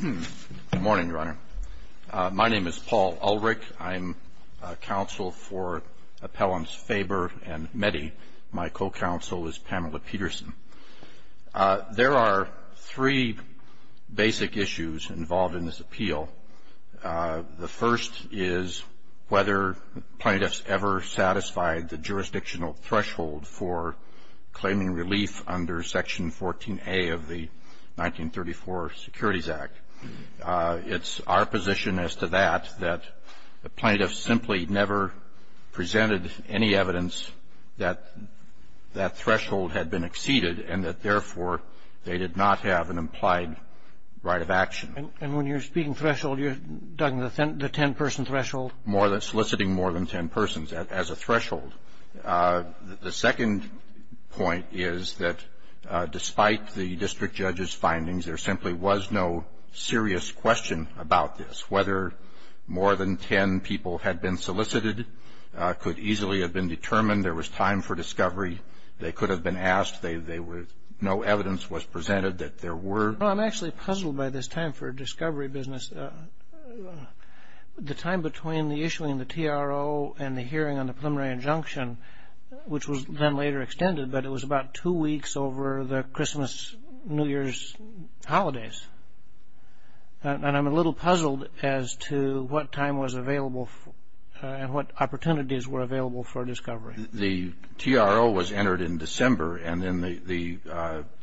Good morning, Your Honor. My name is Paul Ulrich. I'm counsel for Appellants Faber and Meddy. My co-counsel is Pamela Peterson. There are three basic issues involved in this appeal. The first is whether plaintiffs ever satisfied the jurisdictional threshold for claiming relief under Section 14A of the 1934 Securities Act. It's our position as to that, that the plaintiffs simply never presented any evidence that that threshold had been exceeded, and that, therefore, they did not have an implied right of action. And when you're speaking threshold, you're talking about the ten-person threshold? More than – soliciting more than ten persons as a threshold. The second point is that, despite the district judge's findings, there simply was no serious question about this, whether more than ten people had been solicited, could easily have been determined, there was time for discovery, they could have been asked, they were – no evidence was presented that there were. Well, I'm actually puzzled by this time for discovery business. The time between the issuing of the TRO and the hearing on the preliminary injunction, which was then later extended, but it was about two weeks over the Christmas, New Year's holidays. And I'm a little puzzled as to what time was available for – and what opportunities were available for discovery. The TRO was entered in December, and then the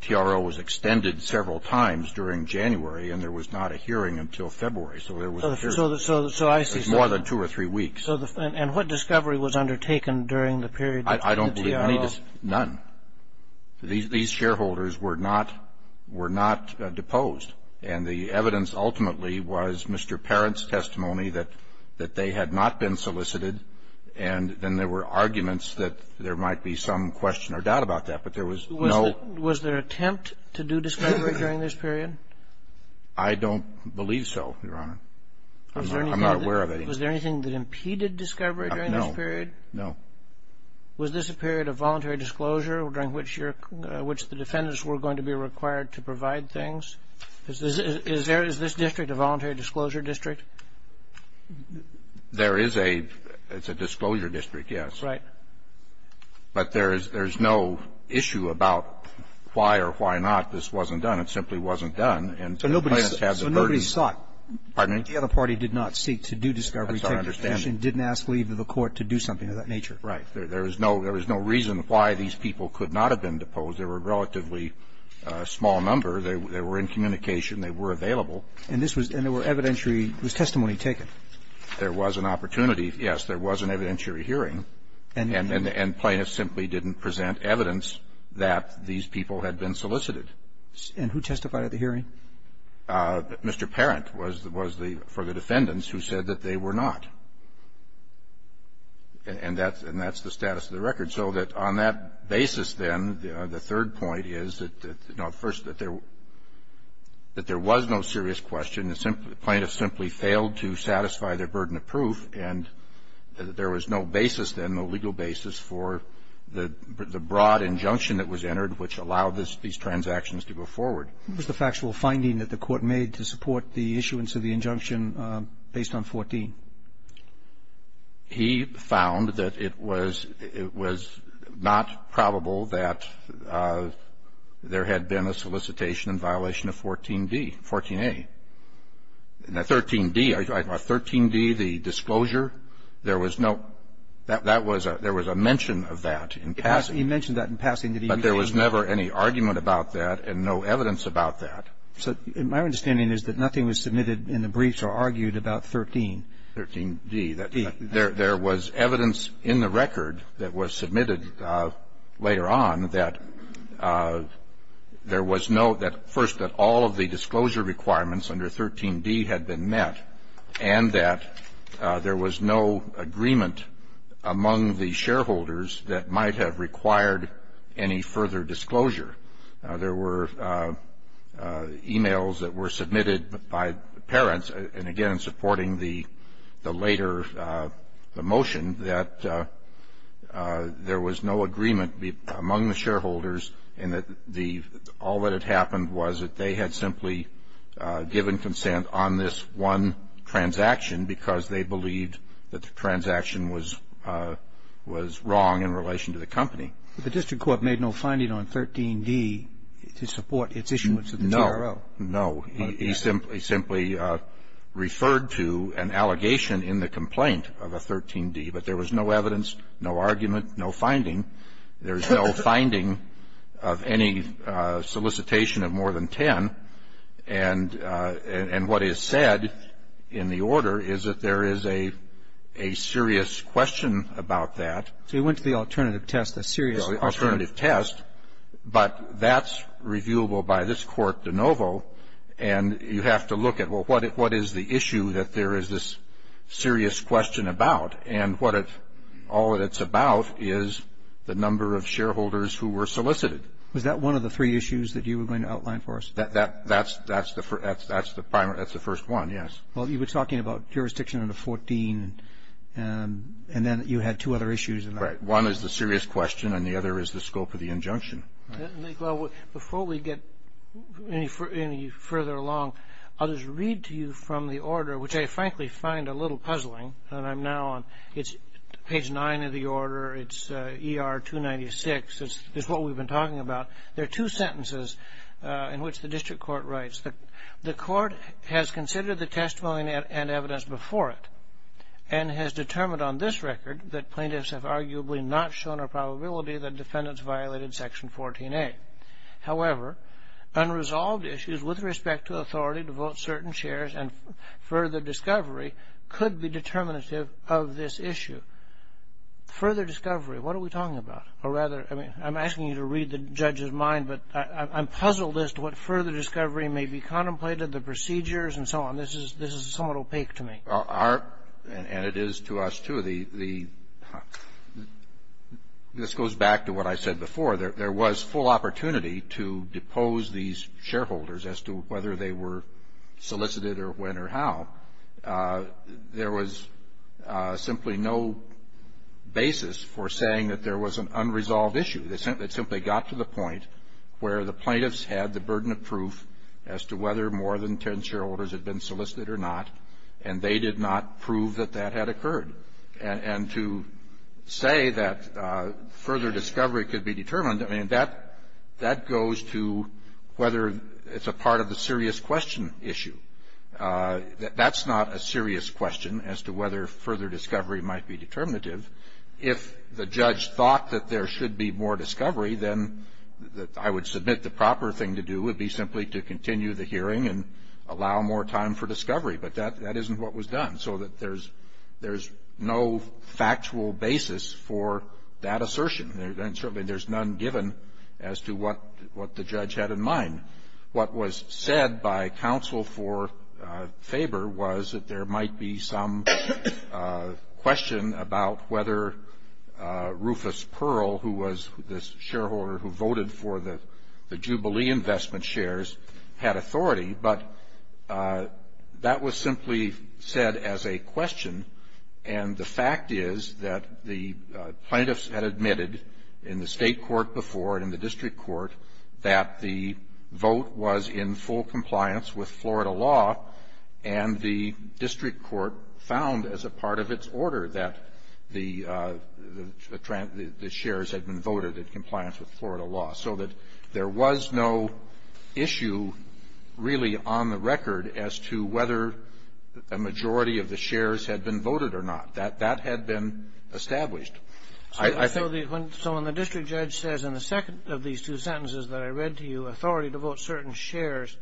TRO was extended several times during January, and there was not a hearing until February. So there was a period of more than two or three weeks. So I see. So the – and what discovery was undertaken during the period between the TRO? I don't believe any – none. These shareholders were not – were not deposed. And the evidence ultimately was Mr. Parent's testimony that they had not been solicited, and then there were arguments that there might be some question or doubt about that, but there was no – Was there attempt to do discovery during this period? I don't believe so, Your Honor. I'm not aware of any. Was there anything that impeded discovery during this period? No. No. Was this a period of voluntary disclosure during which your – which the defendants were going to be required to provide things? Is this – is there – is this district a voluntary disclosure district? There is a – it's a disclosure district, yes. Right. But there is – there's no issue about why or why not this wasn't done. It simply wasn't done. And the plaintiffs had the burden of the other party did not seek to do discovery. That's our understanding. Didn't ask leave of the court to do something of that nature. Right. There was no – there was no reason why these people could not have been deposed. They were a relatively small number. They were in communication. They were available. And this was – and there were evidentiary – was testimony taken? There was an opportunity, yes. There was an evidentiary hearing. And the plaintiffs simply didn't present evidence that these people had been solicited. And who testified at the hearing? Mr. Parent was the – was the – for the defendants who said that they were not. And that's – and that's the status of the record. So that on that basis, then, the third point is that – no, first, that there – that there was no serious question. The plaintiffs simply failed to satisfy their burden of proof. And there was no basis, then, no legal basis for the broad injunction that was entered which allowed this – these transactions to go forward. What was the factual finding that the court made to support the issuance of the injunction based on 14? He found that it was – it was not probable that there had been a solicitation in violation of 14d – 14a. And the 13d – 13d, the disclosure, there was no – that was a – there was a mention of that in passing. He mentioned that in passing. But there was never any argument about that and no evidence about that. So my understanding is that nothing was submitted in the briefs or argued about 13. 13d. There was evidence in the record that was submitted later on that there was no – that – first, that all of the disclosure requirements under 13d had been met and that there was no agreement among the shareholders that might have required any further disclosure. There were emails that were submitted by parents, and again, supporting the later – the motion that there was no agreement among the shareholders and that the – all that had happened was that they had simply given consent on this one transaction because they believed that the transaction was – was wrong in relation to the company. But the district court made no finding on 13d to support its issuance of the CRO. No. No. He simply referred to an allegation in the complaint of a 13d, but there was no evidence, no argument, no finding. There's no finding of any solicitation of more than 10. And what is said in the order is that there is a serious question about that. So you went to the alternative test, a serious alternative test. But that's reviewable by this court de novo, and you have to look at, well, what is the issue that there is this serious question about? And what it – all that it's about is the number of shareholders who were solicited. Was that one of the three issues that you were going to outline for us? That's the – that's the primary – that's the first one, yes. Well, you were talking about jurisdiction under 14, and then you had two other issues in that. Right. So one is the serious question, and the other is the scope of the injunction. Right. Well, before we get any further along, I'll just read to you from the order, which I frankly find a little puzzling, and I'm now on – it's page 9 of the order, it's ER-296, it's what we've been talking about. There are two sentences in which the district court writes that the court has considered the testimony and evidence before it and has determined on this record that plaintiffs have arguably not shown a probability that defendants violated Section 14A. However, unresolved issues with respect to authority to vote certain shares and further discovery could be determinative of this issue. Further discovery, what are we talking about? Or rather, I mean, I'm asking you to read the judge's mind, but I'm puzzled as to what further discovery may be contemplated, the procedures and so on. This is – this is somewhat opaque to me. Our – and it is to us, too. The – this goes back to what I said before. There was full opportunity to depose these shareholders as to whether they were solicited or when or how. There was simply no basis for saying that there was an unresolved issue. It simply got to the point where the plaintiffs had the burden of proof as to whether more than 10 shareholders had been solicited or not. And they did not prove that that had occurred. And to say that further discovery could be determined, I mean, that – that goes to whether it's a part of the serious question issue. That's not a serious question as to whether further discovery might be determinative. If the judge thought that there should be more discovery, then I would submit the proper thing to do would be simply to continue the hearing and allow more time for discovery. But that – that isn't what was done. So that there's – there's no factual basis for that assertion. And certainly there's none given as to what – what the judge had in mind. What was said by counsel for Faber was that there might be some question about whether Rufus Pearl, who was the shareholder who voted for the – the Jubilee investment shares, had authority. But that was simply said as a question. And the fact is that the plaintiffs had admitted in the state court before and in the district court that the vote was in full compliance with Florida law. And the district court found as a part of its order that the – the shares had been voted in compliance with Florida law. So that there was no issue, really, on the record as to whether a majority of the shares had been voted or not. That – that had been established. I think – So the – so when the district judge says in the second of these two sentences that I read to you, authority to vote certain shares,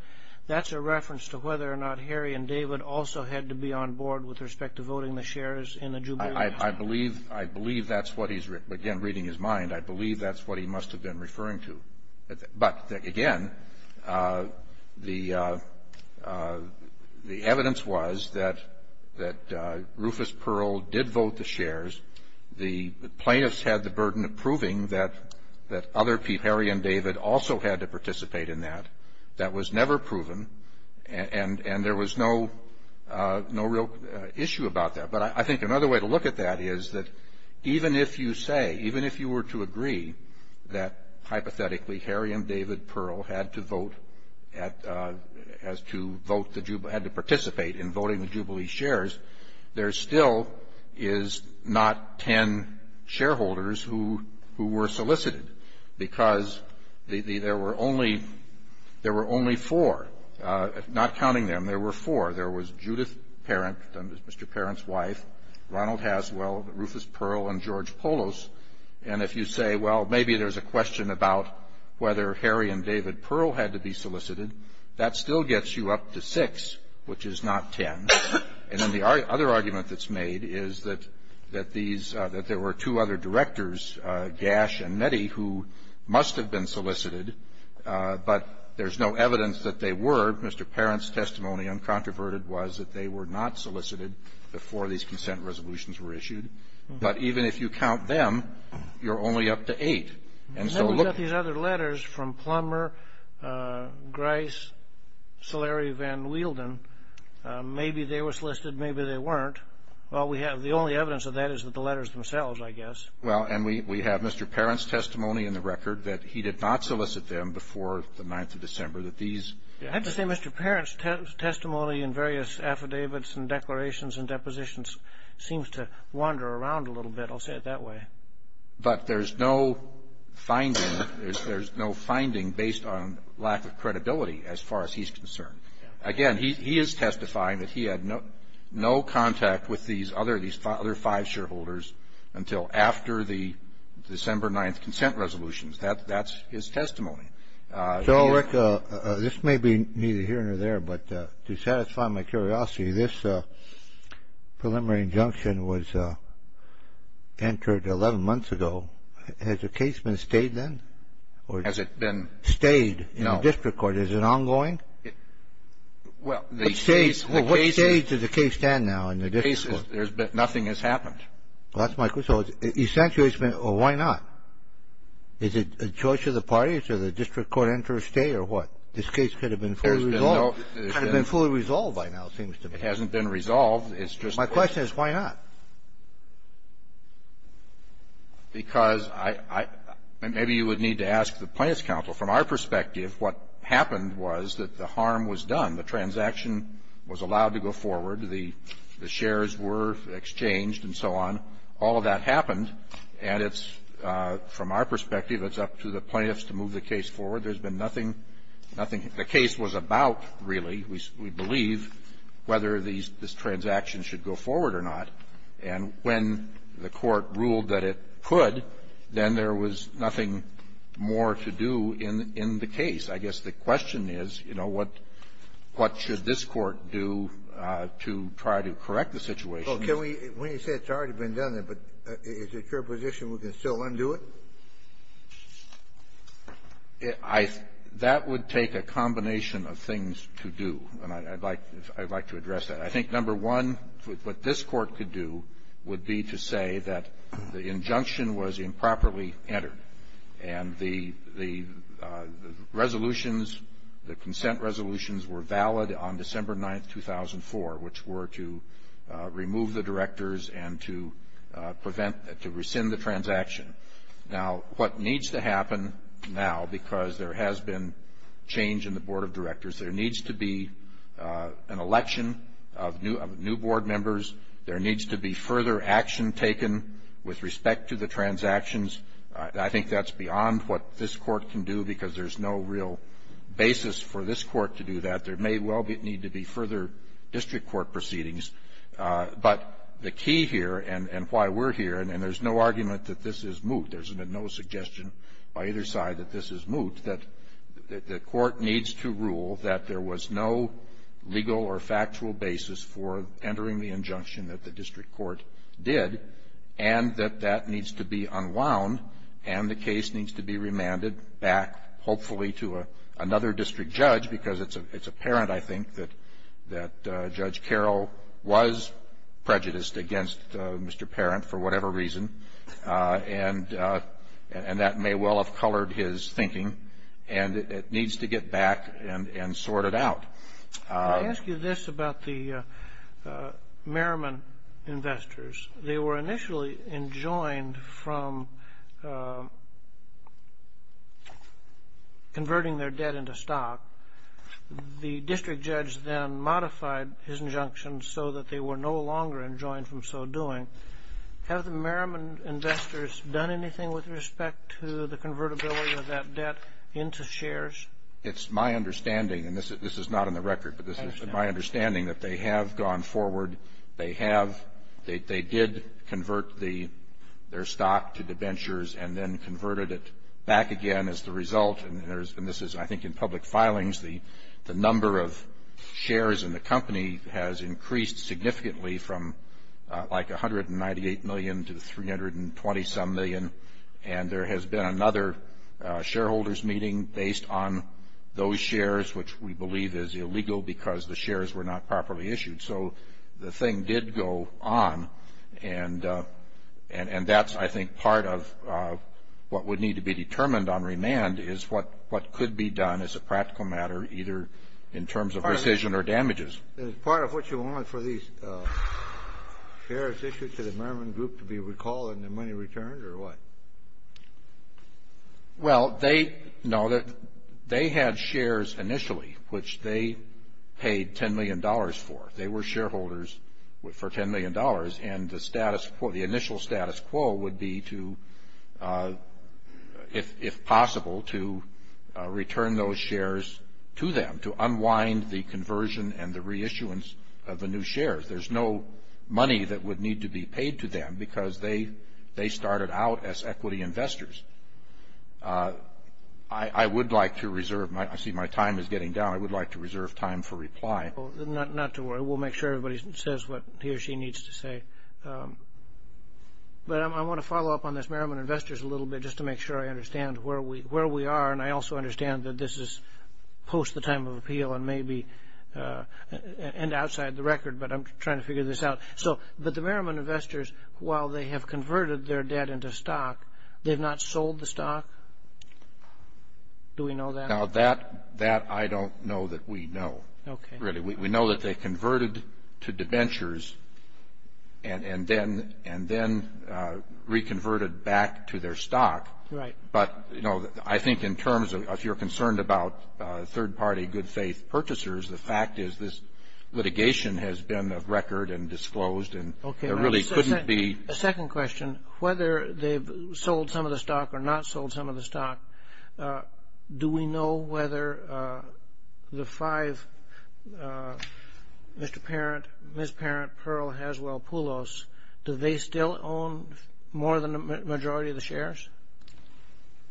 that's a reference to whether or not Harry and David also had to be on board with respect to voting the shares in the Jubilee investment – I believe – I believe that's what he's – again, reading his mind, I believe that's what he must have been referring to. But, again, the – the evidence was that – that Rufus Pearl did vote the shares. The plaintiffs had the burden of proving that – that other people – Harry and David also had to participate in that. That was never proven, and – and there was no – no real issue about that. But I think another way to look at that is that even if you say – even if you were to agree that, hypothetically, Harry and David Pearl had to vote at – has to vote the – had to participate in voting the Jubilee shares, there still is not 10 shareholders who – who were solicited, because the – the – there were only – there were only four. Not counting them, there were four. There was Judith Parent, Mr. Parent's wife, Ronald Haswell, Rufus Pearl, and George Polos. And if you say, well, maybe there's a question about whether Harry and David Pearl had to be solicited, that still gets you up to six, which is not 10. And then the other argument that's made is that – that these – that there were two other directors, Gash and Nettie, who must have been solicited, but there's no evidence that they were. Mr. Parent's testimony, uncontroverted, was that they were not solicited before these consent resolutions were issued. But even if you count them, you're only up to eight. And so look – And then we've got these other letters from Plummer, Grice, Solari, Van Wielden. Maybe they were solicited, maybe they weren't. Well, we have – the only evidence of that is that the letters themselves, I guess. Well, and we have Mr. Parent's testimony in the record that he did not solicit them before the 9th of December, that these – I have to say, Mr. Parent's testimony in various affidavits and declarations and depositions seems to wander around a little bit. I'll say it that way. But there's no finding – there's no finding based on lack of credibility as far as he's concerned. Again, he is testifying that he had no contact with these other five shareholders until after the December 9th consent resolutions. That's his testimony. So, Rick, this may be neither here nor there, but to satisfy my curiosity, this preliminary injunction was entered 11 months ago. Has the case been stayed then? Has it been – Stayed in the district court. Is it ongoing? Well, the case – What stage does the case stand now in the district court? There's been – nothing has happened. Well, that's my – so essentially it's been – well, why not? Is it a choice of the parties? Does the district court enter a stay or what? This case could have been fully resolved by now, it seems to me. It hasn't been resolved. It's just a question. My question is why not? Because I – maybe you would need to ask the Plaintiffs' counsel. From our perspective, what happened was that the harm was done. The transaction was allowed to go forward. The shares were exchanged and so on. All of that happened. And it's – from our perspective, it's up to the plaintiffs to move the case forward. There's been nothing – nothing – the case was about, really, we believe, whether these – this transaction should go forward or not. And when the Court ruled that it could, then there was nothing more to do in the case. I guess the question is, you know, what should this Court do to try to correct the situation? Well, can we – when you say it's already been done, is it your position we can still undo it? I – that would take a combination of things to do. And I'd like to address that. I think, number one, what this Court could do would be to say that the injunction was improperly entered. And the resolutions – the consent resolutions were valid on December 9th, 2004, which were to remove the directors and to prevent – to rescind the transaction. Now, what needs to happen now, because there has been change in the Board of Directors, there needs to be an election of new Board members. There needs to be further action taken with respect to the transactions. I think that's beyond what this Court can do because there's no real basis for this Court to do that. There may well need to be further district court proceedings. But the key here and why we're here – and there's no argument that this is moot. There's been no suggestion by either side that this is moot. And that the Court needs to rule that there was no legal or factual basis for entering the injunction that the district court did and that that needs to be unwound and the case needs to be remanded back, hopefully, to another district judge because it's apparent, I think, that Judge Carroll was prejudiced against Mr. Parent for whatever reason and that may well have colored his thinking. And it needs to get back and sorted out. Can I ask you this about the Merriman investors? They were initially enjoined from converting their debt into stock. The district judge then modified his injunction so that they were no longer enjoined from so doing. Have the Merriman investors done anything with respect to the convertibility of that debt into shares? It's my understanding – and this is not in the record – but this is my understanding that they have gone forward. They have. They did convert their stock to debentures and then converted it back again as the result. And this is, I think, in public filings. The number of shares in the company has increased significantly from like 198 million to 320-some million. And there has been another shareholders meeting based on those shares, which we believe is illegal because the shares were not properly issued. So the thing did go on and that's, I think, part of what would need to be determined on remand is what could be done as a practical matter either in terms of rescission or damages. Is part of what you want for these shares issued to the Merriman Group to be recalled and the money returned or what? Well, they had shares initially, which they paid $10 million for. They were shareholders for $10 million. And the initial status quo would be to, if possible, to return those shares to them, to unwind the conversion and the reissuance of the new shares. There's no money that would need to be paid to them because they started out as equity investors. I would like to reserve – I see my time is getting down. I would like to reserve time for reply. Not to worry. We'll make sure everybody says what he or she needs to say. But I want to follow up on this Merriman Investors a little bit just to make sure I understand where we are. And I also understand that this is post the time of appeal and outside the record, but I'm trying to figure this out. But the Merriman Investors, while they have converted their debt into stock, they've not sold the stock? Do we know that? Now, that I don't know that we know, really. We know that they converted to debentures and then reconverted back to their stock. But, you know, I think in terms of if you're concerned about third-party good-faith purchasers, the fact is this litigation has been a record and disclosed and there really couldn't be – The second question, whether they've sold some of the stock or not sold some of the stock, do we know whether the five, Mr. Parent, Ms. Parent, Pearl, Haswell, Poulos, do they still own more than the majority of the shares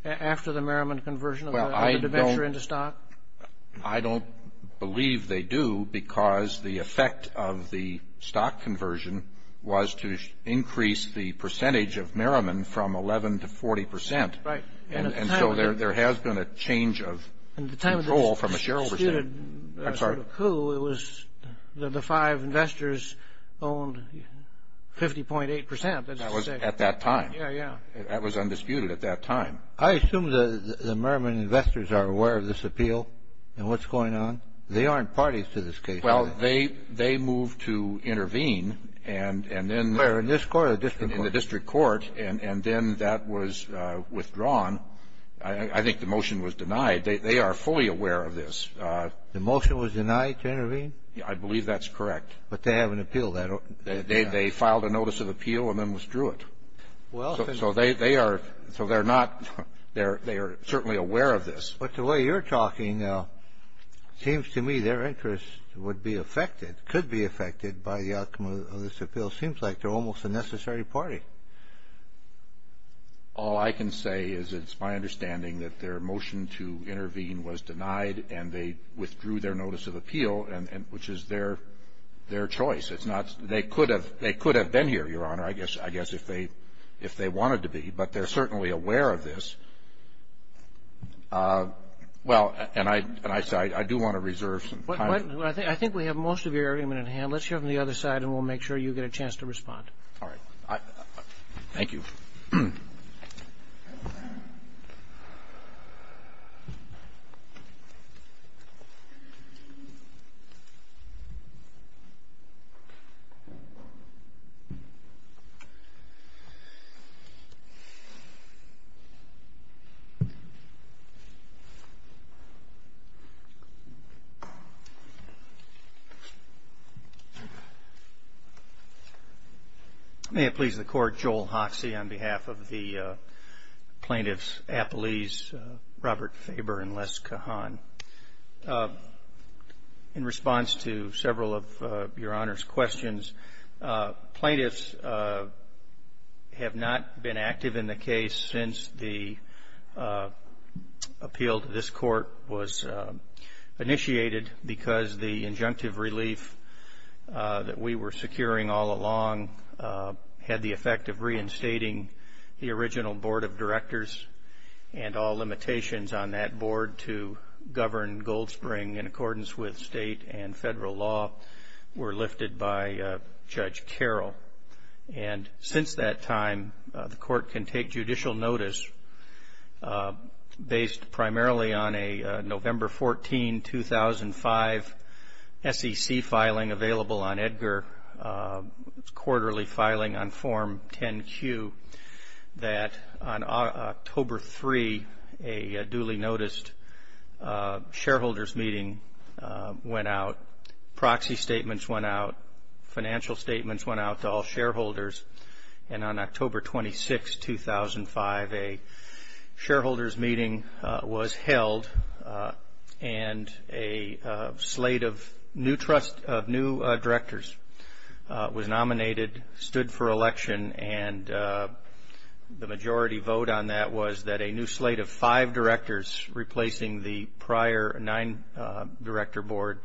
after the Merriman conversion of the debenture into stock? I don't believe they do because the effect of the stock conversion was to increase the percentage of Merriman from 11 to 40 percent. Right. And so there has been a change of control from the shareholders. At the time of this disputed coup, it was that the five investors owned 50.8 percent. That was at that time. Yeah, yeah. That was undisputed at that time. I assume the Merriman investors are aware of this appeal and what's going on. They aren't parties to this case. Well, they moved to intervene and then – Where, in this court or the district court? In the district court, and then that was withdrawn. I think the motion was denied. They are fully aware of this. The motion was denied to intervene? Yeah, I believe that's correct. But they have an appeal. They filed a notice of appeal and then withdrew it. So they are not – they are certainly aware of this. But the way you're talking, it seems to me their interest would be affected, could be affected by the outcome of this appeal. It seems like they're almost a necessary party. All I can say is it's my understanding that their motion to intervene was denied and they withdrew their notice of appeal, which is their choice. It's not – they could have been here, Your Honor. I guess if they wanted to be, but they're certainly aware of this. Well, and I do want to reserve some time. I think we have most of your argument at hand. Let's hear from the other side and we'll make sure you get a chance to respond. All right. Thank you. Thank you. May it please the Court. I'm Joel Hoxie on behalf of the plaintiffs Appellees Robert Faber and Les Cahan. In response to several of Your Honor's questions, plaintiffs have not been active in the case since the appeal to this court was initiated because the injunctive relief that we were securing all along had the effect of reinstating the original board of directors and all limitations on that board to govern Gold Spring in accordance with state and federal law were lifted by Judge Carroll. And since that time, the court can take judicial notice based primarily on a November 14, 2005, SEC filing available on Edgar, quarterly filing on Form 10-Q, that on October 3, a duly noticed shareholders meeting went out, proxy statements went out, financial statements went out to all shareholders. And on October 26, 2005, a shareholders meeting was held and a slate of new directors was nominated, stood for election, and the majority vote on that was that a new slate of five directors replacing the prior nine director board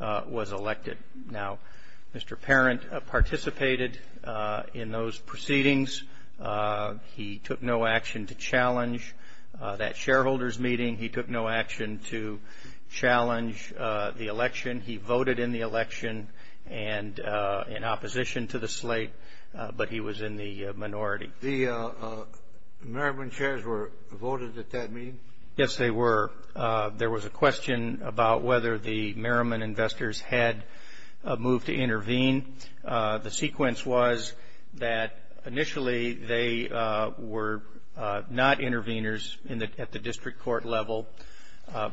was elected. Now, Mr. Parent participated in those proceedings. He took no action to challenge that shareholders meeting. He took no action to challenge the election. He voted in the election and in opposition to the slate, but he was in the minority. The Merriman chairs were voted at that meeting? Yes, they were. There was a question about whether the Merriman investors had moved to intervene. The sequence was that initially they were not intervenors at the district court level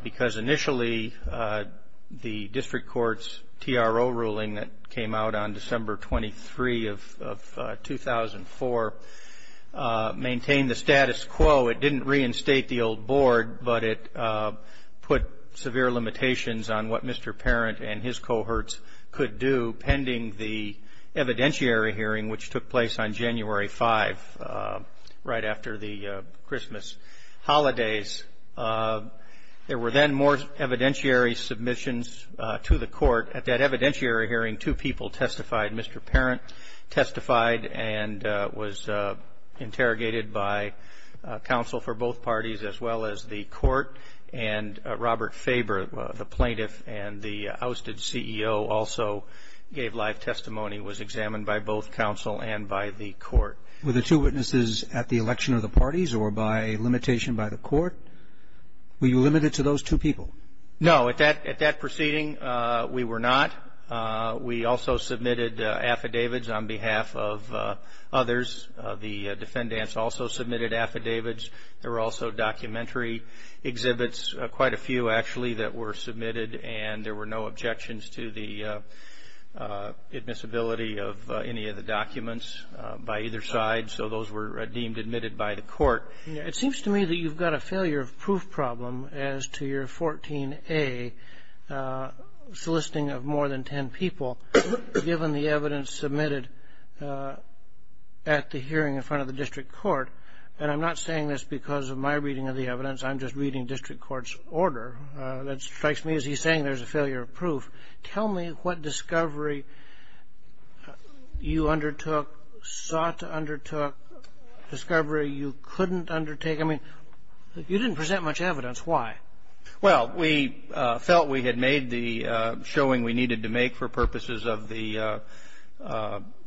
because initially the district court's TRO ruling that came out on December 23 of 2004 maintained the status quo. It didn't reinstate the old board, but it put severe limitations on what Mr. Parent and his cohorts could do pending the evidentiary hearing, which took place on January 5, right after the Christmas holidays. There were then more evidentiary submissions to the court. At that evidentiary hearing, two people testified. Mr. Parent testified and was interrogated by counsel for both parties as well as the court, and Robert Faber, the plaintiff and the ousted CEO, also gave live testimony and was examined by both counsel and by the court. Were the two witnesses at the election of the parties or by limitation by the court? Were you limited to those two people? No, at that proceeding we were not. We also submitted affidavits on behalf of others. The defendants also submitted affidavits. There were also documentary exhibits, quite a few actually, that were submitted, and there were no objections to the admissibility of any of the documents by either side, so those were deemed admitted by the court. It seems to me that you've got a failure of proof problem as to your 14A soliciting of more than 10 people, given the evidence submitted at the hearing in front of the district court, and I'm not saying this because of my reading of the evidence. I'm just reading district court's order. That strikes me as he's saying there's a failure of proof. Tell me what discovery you undertook, sought to undertook, discovery you couldn't undertake. I mean, you didn't present much evidence. Why? Well, we felt we had made the showing we needed to make for purposes of the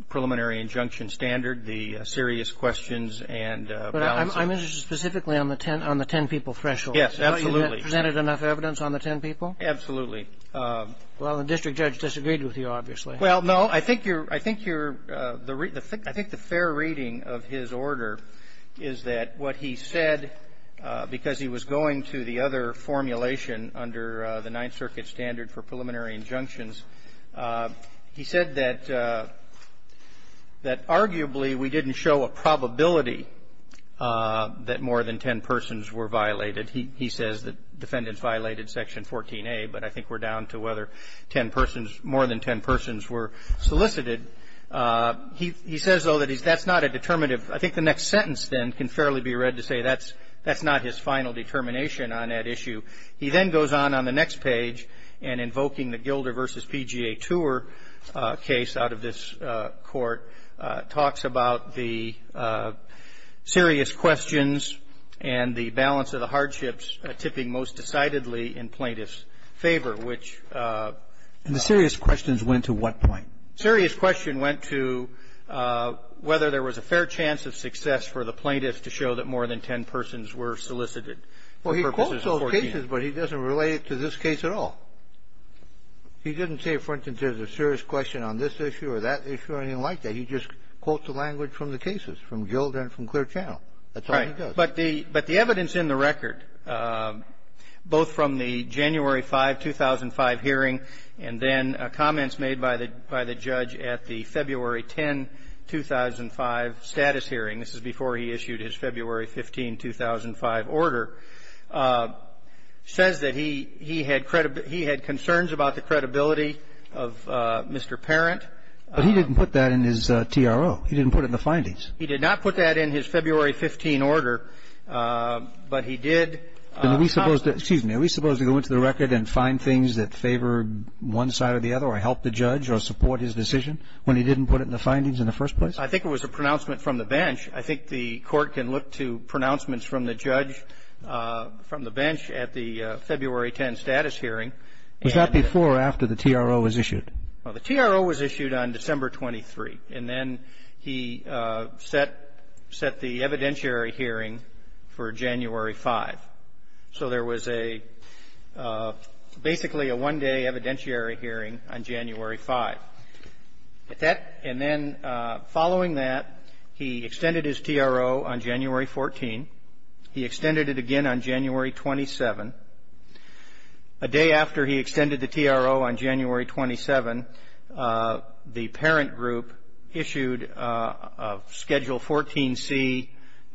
preliminary injunction standard, the serious questions and balances. But I'm interested specifically on the 10 people threshold. Yes, absolutely. You presented enough evidence on the 10 people? Absolutely. Well, the district judge disagreed with you, obviously. Well, no. I think you're the real thing. I think the fair reading of his order is that what he said, because he was going to the other formulation under the Ninth Circuit standard for preliminary injunctions, he said that arguably we didn't show a probability that more than 10 persons were violated. He says that defendants violated Section 14A, but I think we're down to whether 10 persons, more than 10 persons were solicited. He says, though, that that's not a determinative. I think the next sentence, then, can fairly be read to say that's not his final determination on that issue. He then goes on on the next page and, invoking the Gilder v. PGA Tour case out of this court, talks about the serious questions and the balance of the hardships tipping most decidedly in plaintiff's favor, which the serious questions went to what point? Serious question went to whether there was a fair chance of success for the plaintiff to show that more than 10 persons were solicited for purposes of 14. Well, he quotes those cases, but he doesn't relate it to this case at all. He didn't say, for instance, there's a serious question on this issue or that issue or anything like that. He just quotes the language from the cases, from Gilder and from Clear Channel. That's all he does. Right. But the evidence in the record, both from the January 5, 2005 hearing and then comments made by the judge at the February 10, 2005 status hearing, this is before he issued his February 15, 2005 order, says that he had concerns about the credibility of Mr. Parent. But he didn't put that in his TRO. He didn't put it in the findings. He did not put that in his February 15 order, but he did comment. Excuse me. Are we supposed to go into the record and find things that favor one side or the other or help the judge or support his decision when he didn't put it in the findings in the first place? I think it was a pronouncement from the bench. I think the Court can look to pronouncements from the judge from the bench at the February 10 status hearing. Was that before or after the TRO was issued? Well, the TRO was issued on December 23, and then he set the evidentiary hearing for January 5. So there was a basically a one-day evidentiary hearing on January 5. And then following that, he extended his TRO on January 14. He extended it again on January 27. A day after he extended the TRO on January 27, the parent group issued a Schedule 14C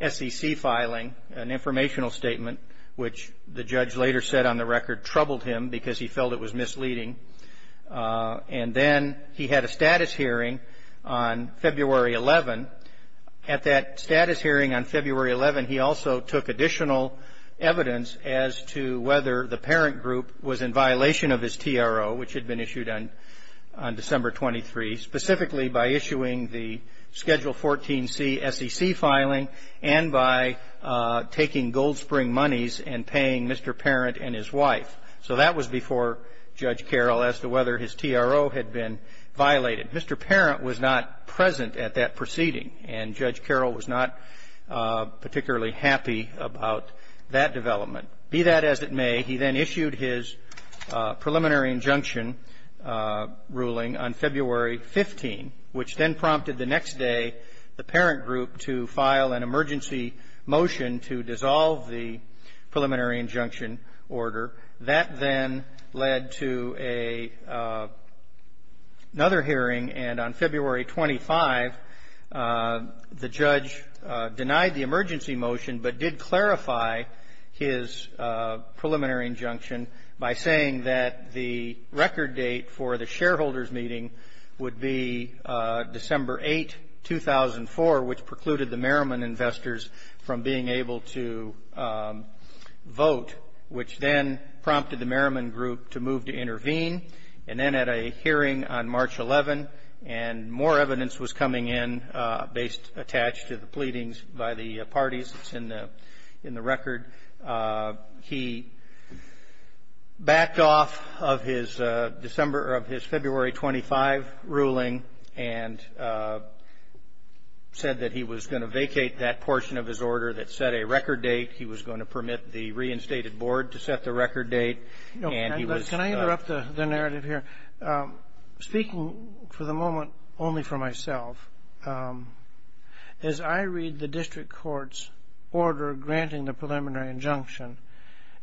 SEC filing, an informational statement, which the judge later said on the record troubled him because he felt it was misleading. And then he had a status hearing on February 11. At that status hearing on February 11, he also took additional evidence as to whether the parent group was in violation of his TRO, which had been issued on December 23, specifically by issuing the Schedule 14C SEC filing and by taking Gold Spring monies and paying Mr. Parent and his wife. So that was before Judge Carroll as to whether his TRO had been violated. Mr. Parent was not present at that proceeding, and Judge Carroll was not particularly happy about that development. Be that as it may, he then issued his preliminary injunction ruling on February 15, which then prompted the next day the parent group to file an emergency motion to dissolve the preliminary injunction order. That then led to another hearing, and on February 25, the judge denied the emergency motion but did clarify his preliminary injunction by saying that the record date for the shareholders' meeting would be December 8, 2004, which precluded the Merriman investors from being able to vote, which then led to a preliminary injunction that then prompted the Merriman group to move to intervene, and then at a hearing on March 11, and more evidence was coming in based attached to the pleadings by the parties that's in the record. He backed off of his February 25 ruling and said that he was going to vacate that portion of his order that set a record date. He was going to permit the reinstated board to set the record date, and he was... Can I interrupt the narrative here? Speaking for the moment only for myself, as I read the district court's order granting the preliminary injunction,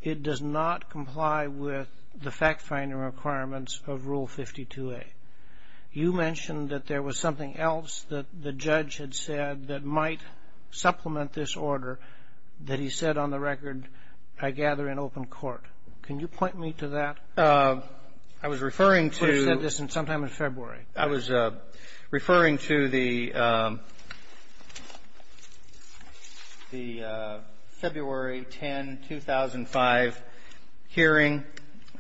it does not comply with the fact-finding requirements of Rule 52A. You mentioned that there was something else that the judge had said that might supplement this order that he said on the record, I gather in open court. Can you point me to that? I was referring to... He said this sometime in February. I was referring to the February 10, 2005 hearing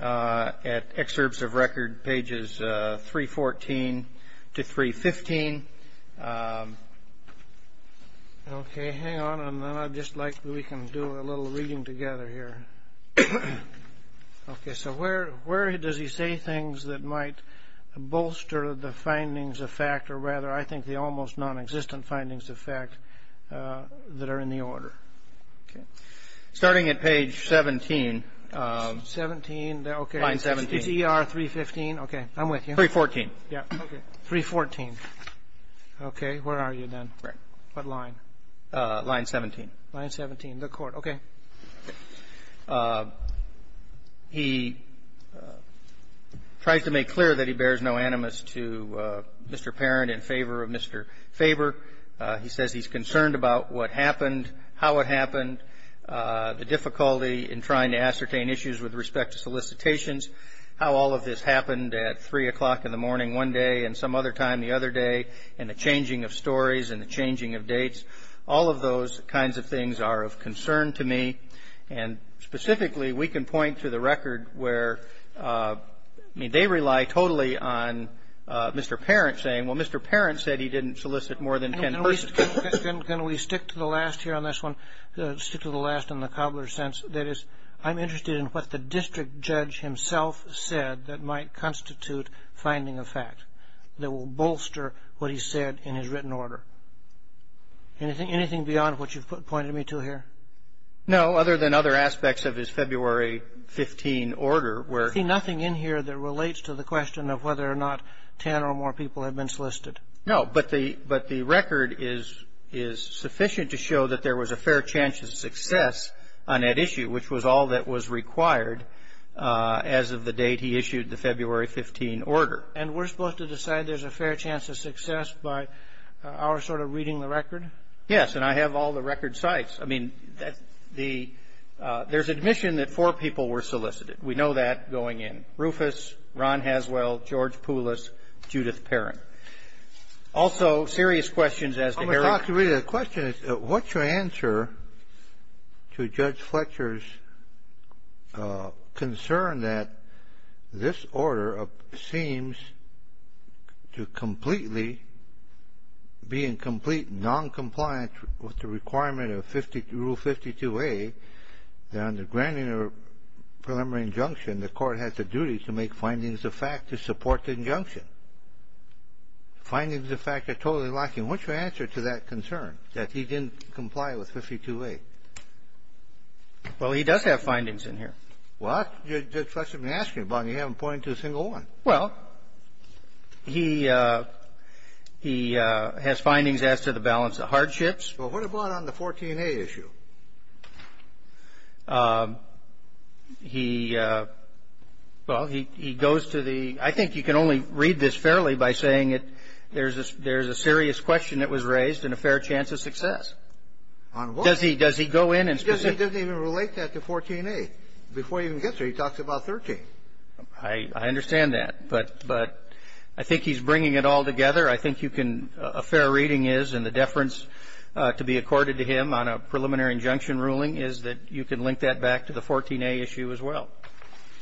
at excerpts of record pages 314 to 315. Okay. Hang on, and then I'd just like... We can do a little reading together here. Okay. So where does he say things that might bolster the findings of fact, or rather, I think, the almost nonexistent findings of fact that are in the order? Starting at page 17. 17. Line 17. It's ER 315. Okay. I'm with you. 314. Yeah. 314. Okay. Where are you then? What line? Line 17. Line 17. The court. Okay. He tries to make clear that he bears no animus to Mr. Parent in favor of Mr. Faber. He says he's concerned about what happened, how it happened, the difficulty in trying to ascertain issues with respect to solicitations, how all of this happened at 3 o'clock in the morning one day and some other time the other day, and the changing of stories and the changing of dates, all of those kinds of things are of concern to me. And specifically, we can point to the record where they rely totally on Mr. Parent saying, well, Mr. Parent said he didn't solicit more than 10 persons. Can we stick to the last here on this one, stick to the last in the cobbler's sense? That is, I'm interested in what the district judge himself said that might constitute finding a fact that will bolster what he said in his written order. Anything beyond what you've pointed me to here? No, other than other aspects of his February 15 order where I see nothing in here that relates to the question of whether or not 10 or more people have been solicited. No, but the record is sufficient to show that there was a fair chance of success on that issue, which was all that was required as of the date he issued the February 15 order. And we're supposed to decide there's a fair chance of success by our sort of reading the record? Yes, and I have all the record sites. I mean, there's admission that four people were solicited. We know that going in. Rufus, Ron Haswell, George Poulos, Judith Parent. Also, serious questions as to Harry's question. The question is, what's your answer to Judge Fletcher's concern that this order seems to completely be in complete noncompliance with the requirement of Rule 52A that under granting a preliminary injunction, the court has the duty to make findings of fact to support the injunction? Findings of fact are totally lacking. What's your answer to that concern, that he didn't comply with 52A? Well, he does have findings in here. Well, that's what you've been asking about, and you haven't pointed to a single one. Well, he has findings as to the balance of hardships. Well, what about on the 14A issue? He goes to the — I think you can only read this fairly by saying there's a serious question that was raised and a fair chance of success. On what? Does he go in and specifically — He doesn't even relate that to 14A. Before he even gets there, he talks about 13. I understand that. But I think he's bringing it all together. I think you can — a fair reading is, and the deference to be accorded to him on a preliminary injunction ruling is that you can link that back to the 14A issue as well.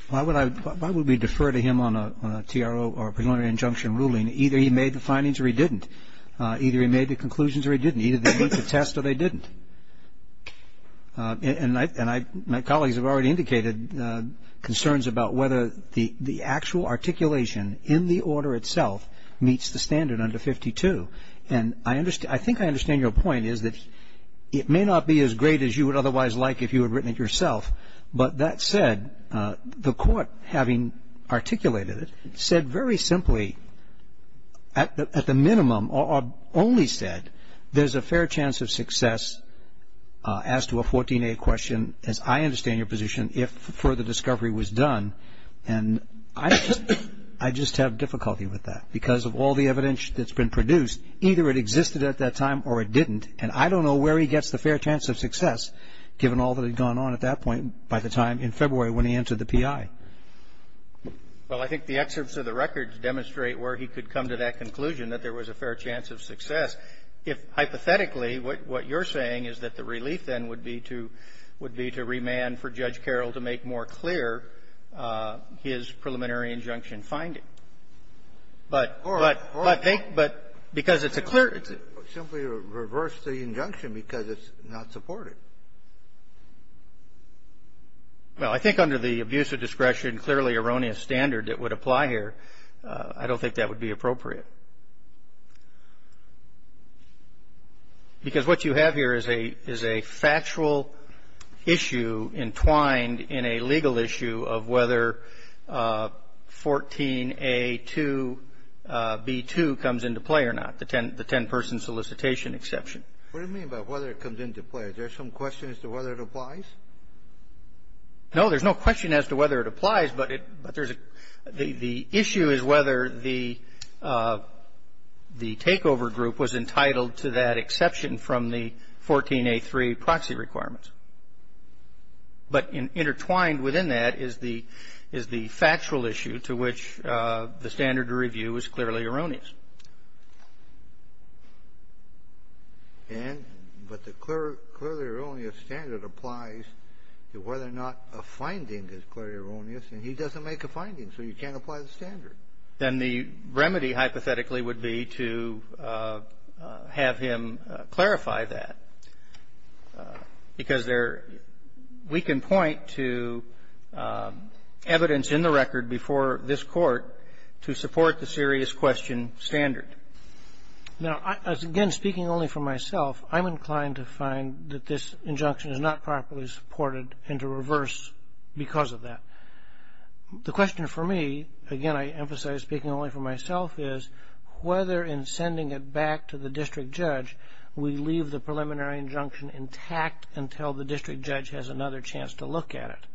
Why would we defer to him on a TRO or a preliminary injunction ruling? Either he made the findings or he didn't. Either he made the conclusions or he didn't. Either they went to test or they didn't. And my colleagues have already indicated concerns about whether the actual articulation in the order itself meets the standard under 52. And I think I understand your point is that it may not be as great as you would otherwise like if you had written it yourself, but that said, the court, having articulated it, at the minimum or only said there's a fair chance of success as to a 14A question, as I understand your position, if further discovery was done. And I just have difficulty with that because of all the evidence that's been produced. Either it existed at that time or it didn't. And I don't know where he gets the fair chance of success, given all that had gone on at that point by the time in February when he entered the PI. Well, I think the excerpts of the records demonstrate where he could come to that conclusion that there was a fair chance of success. If, hypothetically, what you're saying is that the relief, then, would be to remand for Judge Carroll to make more clear his preliminary injunction finding. But they — Of course. Of course. But because it's a clear — Simply reverse the injunction because it's not supported. Well, I think under the abuse of discretion, clearly erroneous standard that would apply here, I don't think that would be appropriate. Because what you have here is a factual issue entwined in a legal issue of whether 14A2B2 comes into play or not, the 10-person solicitation exception. What do you mean by whether it comes into play? Is there some question as to whether it applies? No, there's no question as to whether it applies, but the issue is whether the takeover group was entitled to that exception from the 14A3 proxy requirements. But intertwined within that is the factual issue to which the standard to review is clearly erroneous. And — but the clearly erroneous standard applies to whether or not a finding is clearly erroneous, and he doesn't make a finding, so you can't apply the standard. Then the remedy, hypothetically, would be to have him clarify that, because there — we can point to evidence in the record before this Court to support the serious question standard. Now, again, speaking only for myself, I'm inclined to find that this injunction is not properly supported and to reverse because of that. The question for me — again, I emphasize speaking only for myself — is whether, in sending it back to the district judge, we leave the preliminary injunction intact until the district judge has another chance to look at it.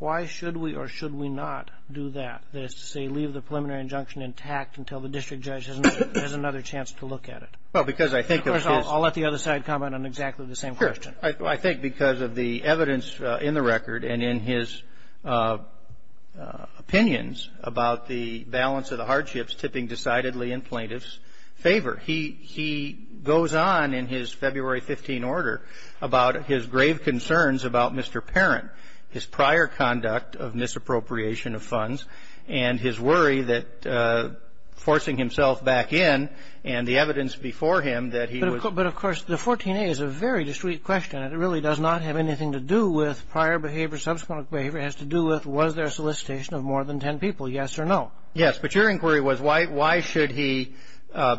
Why should we or should we not do that, that is to say, leave the preliminary injunction intact until the district judge has another chance to look at it? Well, because I think of his — Of course, I'll let the other side comment on exactly the same question. Sure. I think because of the evidence in the record and in his opinions about the balance of the hardships tipping decidedly in plaintiffs' favor. He — he goes on in his February 15 order about his grave concerns about Mr. Parent his prior conduct of misappropriation of funds and his worry that forcing himself back in and the evidence before him that he was — But, of course, the 14A is a very discreet question. It really does not have anything to do with prior behavior, subsequent behavior. It has to do with was there solicitation of more than ten people, yes or no? Yes. But your inquiry was why should he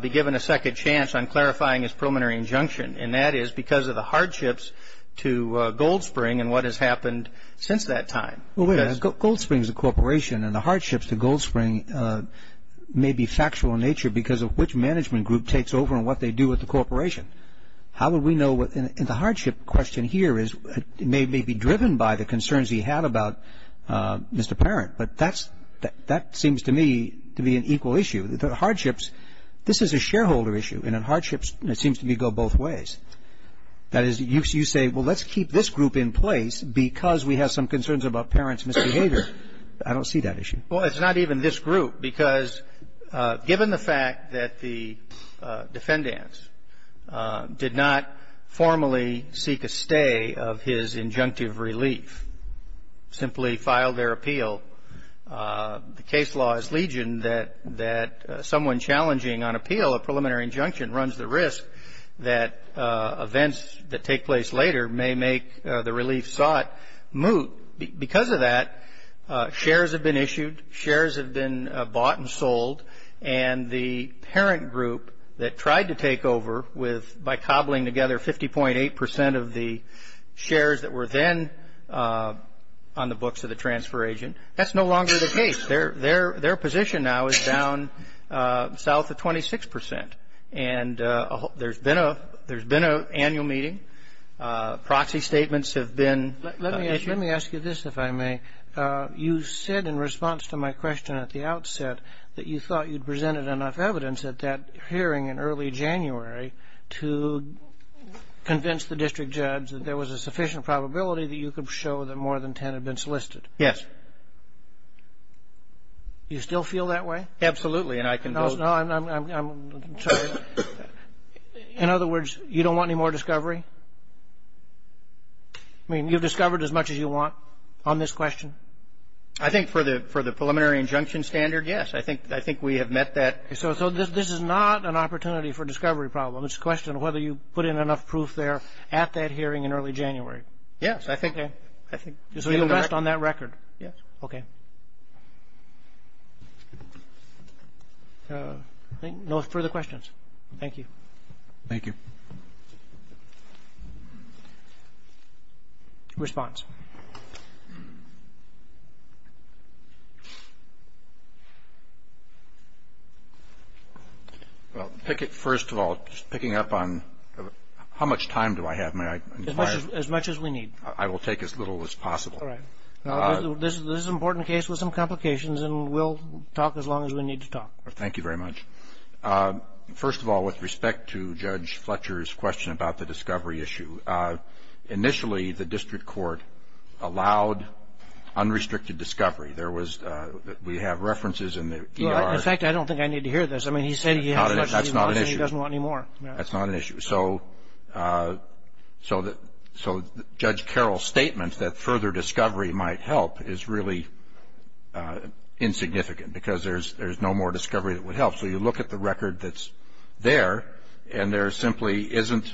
be given a second chance on clarifying his preliminary injunction, and that is because of the hardships to Gold Spring and what has happened since that time. Well, wait a minute. Gold Spring is a corporation, and the hardships to Gold Spring may be factual in nature because of which management group takes over and what they do with the corporation. How would we know what — and the hardship question here is — may be driven by the concerns he had about Mr. Parent, but that seems to me to be an equal issue. The hardships — this is a shareholder issue, and hardships, it seems to me, go both ways. That is, you say, well, let's keep this group in place because we have some concerns about Parent's misbehavior. I don't see that issue. Well, it's not even this group, because given the fact that the defendants did not formally seek a stay of his injunctive relief, simply filed their appeal, the case law is legion that someone challenging on appeal a preliminary injunction runs the risk that events that take place later may make the relief sought moot. Because of that, shares have been issued, shares have been bought and sold, and the Parent group that tried to take over by cobbling together 50.8 percent of the shares that were then on the books of the transfer agent, that's no longer the case. Their position now is down south of 26 percent. And there's been an annual meeting. Proxy statements have been issued. Let me ask you this, if I may. You said in response to my question at the outset that you thought you'd presented enough evidence at that hearing in early January to convince the district judge that there was a sufficient probability that you could show that more than ten had been solicited. Yes. You still feel that way? Absolutely, and I can vote. No, I'm sorry. In other words, you don't want any more discovery? I mean, you've discovered as much as you want on this question? I think for the preliminary injunction standard, yes. I think we have met that. Okay. So this is not an opportunity for discovery problem. It's a question of whether you put in enough proof there at that hearing in early January. Yes. So you rest on that record? Yes. Okay. No further questions. Thank you. Thank you. Thank you. Response. Well, pick it first of all, just picking up on how much time do I have? As much as we need. I will take as little as possible. All right. This is an important case with some complications, and we'll talk as long as we need to talk. Thank you very much. First of all, with respect to Judge Fletcher's question about the discovery issue, initially the district court allowed unrestricted discovery. We have references in the E.R. In fact, I don't think I need to hear this. I mean, he said he has as much as he wants and he doesn't want any more. That's not an issue. That's not an issue. So Judge Carroll's statement that further discovery might help is really insignificant because there's no more discovery that would help. So you look at the record that's there, and there simply isn't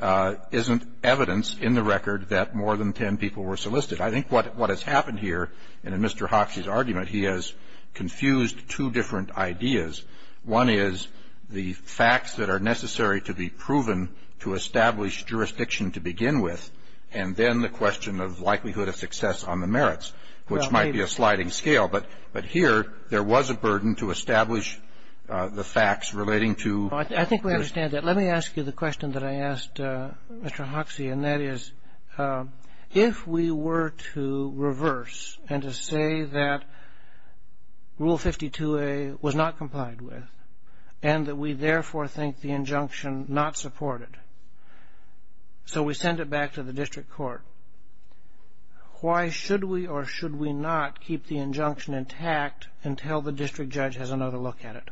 evidence in the record that more than ten people were solicited. I think what has happened here, and in Mr. Hoxie's argument, he has confused two different ideas. One is the facts that are necessary to be proven to establish jurisdiction to begin with, and then the question of likelihood of success on the merits, which might be a sliding scale. But here there was a burden to establish the facts relating to... I think we understand that. Let me ask you the question that I asked Mr. Hoxie, and that is, if we were to reverse and to say that Rule 52A was not complied with and that we therefore think the injunction not supported, so we send it back to the district court, why should we or should we not keep the injunction intact until the district judge has another look at it?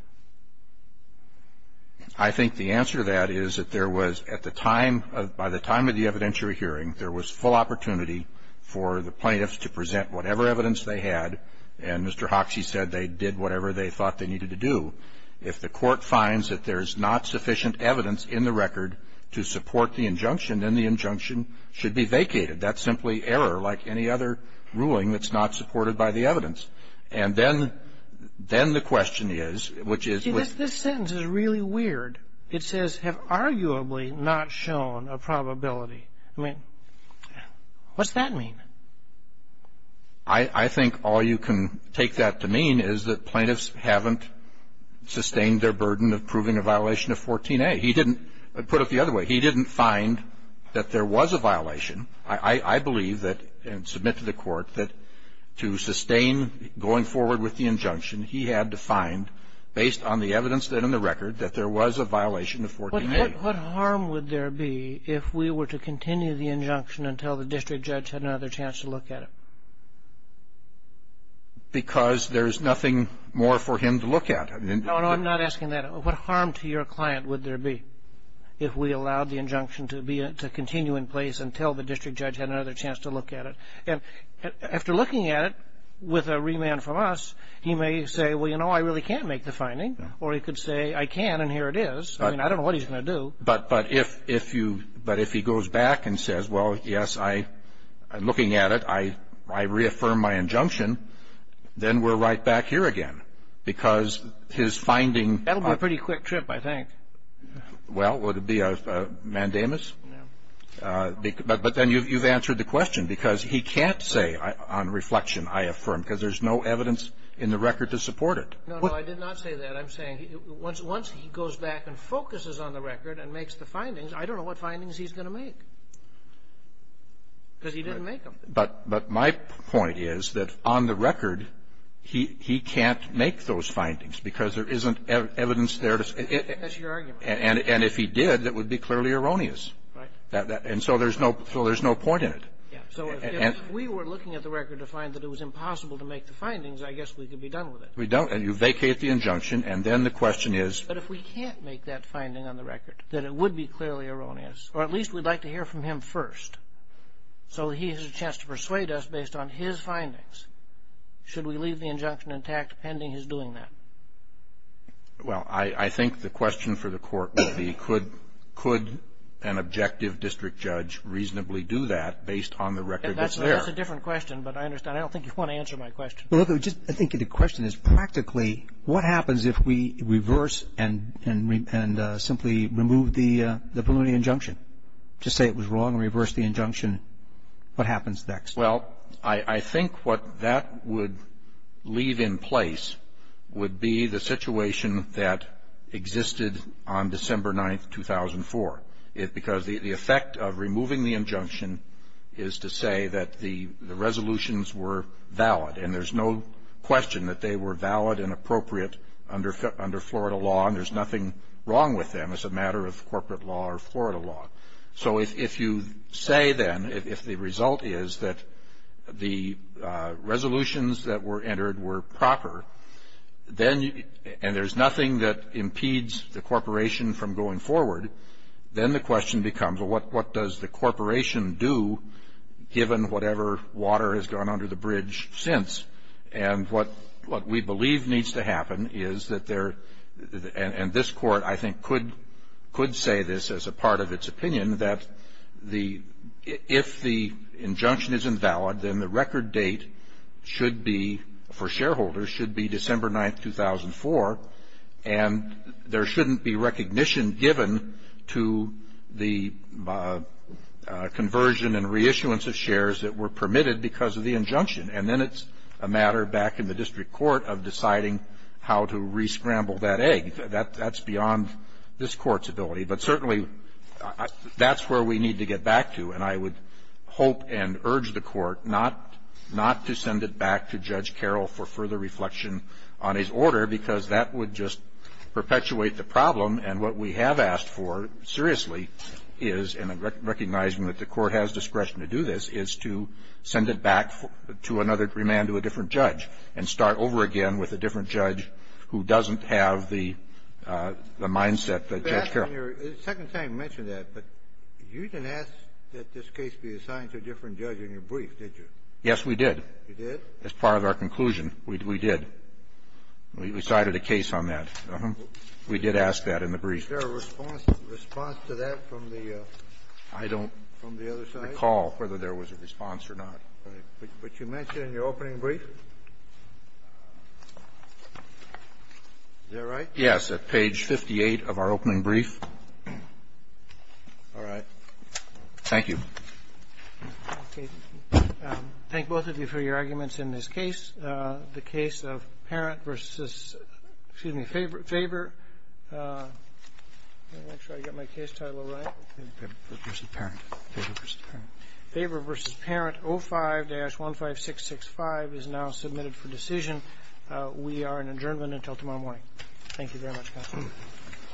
I think the answer to that is that there was, at the time, by the time of the evidentiary hearing, there was full opportunity for the plaintiffs to present whatever evidence they had, and Mr. Hoxie said they did whatever they thought they needed to do. If the court finds that there's not sufficient evidence in the record to support the injunction, then the injunction should be vacated. That's simply error like any other ruling that's not supported by the evidence. And then the question is, which is... See, this sentence is really weird. It says, have arguably not shown a probability. I mean, what's that mean? I think all you can take that to mean is that plaintiffs haven't sustained their burden of proving a violation of 14A. He didn't put it the other way. He didn't find that there was a violation. I believe that, and submit to the court, that to sustain going forward with the injunction, he had to find, based on the evidence in the record, that there was a violation of 14A. What harm would there be if we were to continue the injunction until the district judge had another chance to look at it? Because there's nothing more for him to look at. No, no, I'm not asking that. What harm to your client would there be if we allowed the injunction to be to continue in place until the district judge had another chance to look at it? And after looking at it with a remand from us, he may say, well, you know, I really can't make the finding. Or he could say, I can, and here it is. I mean, I don't know what he's going to do. But if you... But if he goes back and says, well, yes, I'm looking at it, I reaffirm my injunction, then we're right back here again because his finding... That would be a pretty quick trip, I think. Well, would it be a mandamus? No. But then you've answered the question. Because he can't say, on reflection, I affirm, because there's no evidence in the record to support it. No, no, I did not say that. I'm saying once he goes back and focuses on the record and makes the findings, I don't know what findings he's going to make because he didn't make them. But my point is that on the record, he can't make those findings because there isn't evidence there to... That's your argument. And if he did, that would be clearly erroneous. Right. And so there's no point in it. Yeah. So if we were looking at the record to find that it was impossible to make the findings, I guess we could be done with it. We don't. And you vacate the injunction, and then the question is... But if we can't make that finding on the record, then it would be clearly erroneous. Or at least we'd like to hear from him first. So he has a chance to persuade us based on his findings. Should we leave the injunction intact pending his doing that? Well, I think the question for the court would be, could an objective district judge reasonably do that based on the record that's there? That's a different question, but I understand. I don't think you want to answer my question. I think the question is, practically, what happens if we reverse and simply remove the preliminary injunction? To say it was wrong and reverse the injunction, what happens next? Well, I think what that would leave in place would be the situation that existed on December 9, 2004. Because the effect of removing the injunction is to say that the resolutions were valid, and there's no question that they were valid and appropriate under Florida law, and there's nothing wrong with them as a matter of corporate law or Florida law. So if you say, then, if the result is that the resolutions that were entered were proper, and there's nothing that impedes the corporation from going forward, then the question becomes, well, what does the corporation do, given whatever water has gone under the bridge since? And what we believe needs to happen is that there, and this Court, I think, could say this as a part of its opinion, that if the injunction is invalid, then the record date should be, for shareholders, should be December 9, 2004, and there shouldn't be recognition given to the conversion and reissuance of shares that were permitted because of the injunction. And then it's a matter back in the district court of deciding how to re-scramble that egg. That's beyond this Court's ability. But certainly, that's where we need to get back to. And I would hope and urge the Court not to send it back to Judge Carroll for further reflection on his order, because that would just perpetuate the problem. And what we have asked for, seriously, is, and I'm recognizing that the Court has discretion to do this, is to send it back to another remand, to a different judge, and start over again with a different judge who doesn't have the mindset that Judge Carroll has. Kennedy. The second time you mentioned that, but you didn't ask that this case be assigned to a different judge in your brief, did you? Yes, we did. You did? As part of our conclusion, we did. We decided a case on that. We did ask that in the brief. Is there a response to that from the other side? I don't recall whether there was a response or not. But you mentioned in your opening brief? Is that right? Yes, at page 58 of our opening brief. All right. Thank you. Okay. Thank both of you for your arguments in this case. The case of Faber v. Parent 05-15665 is now submitted for decision. We are in adjournment until tomorrow morning.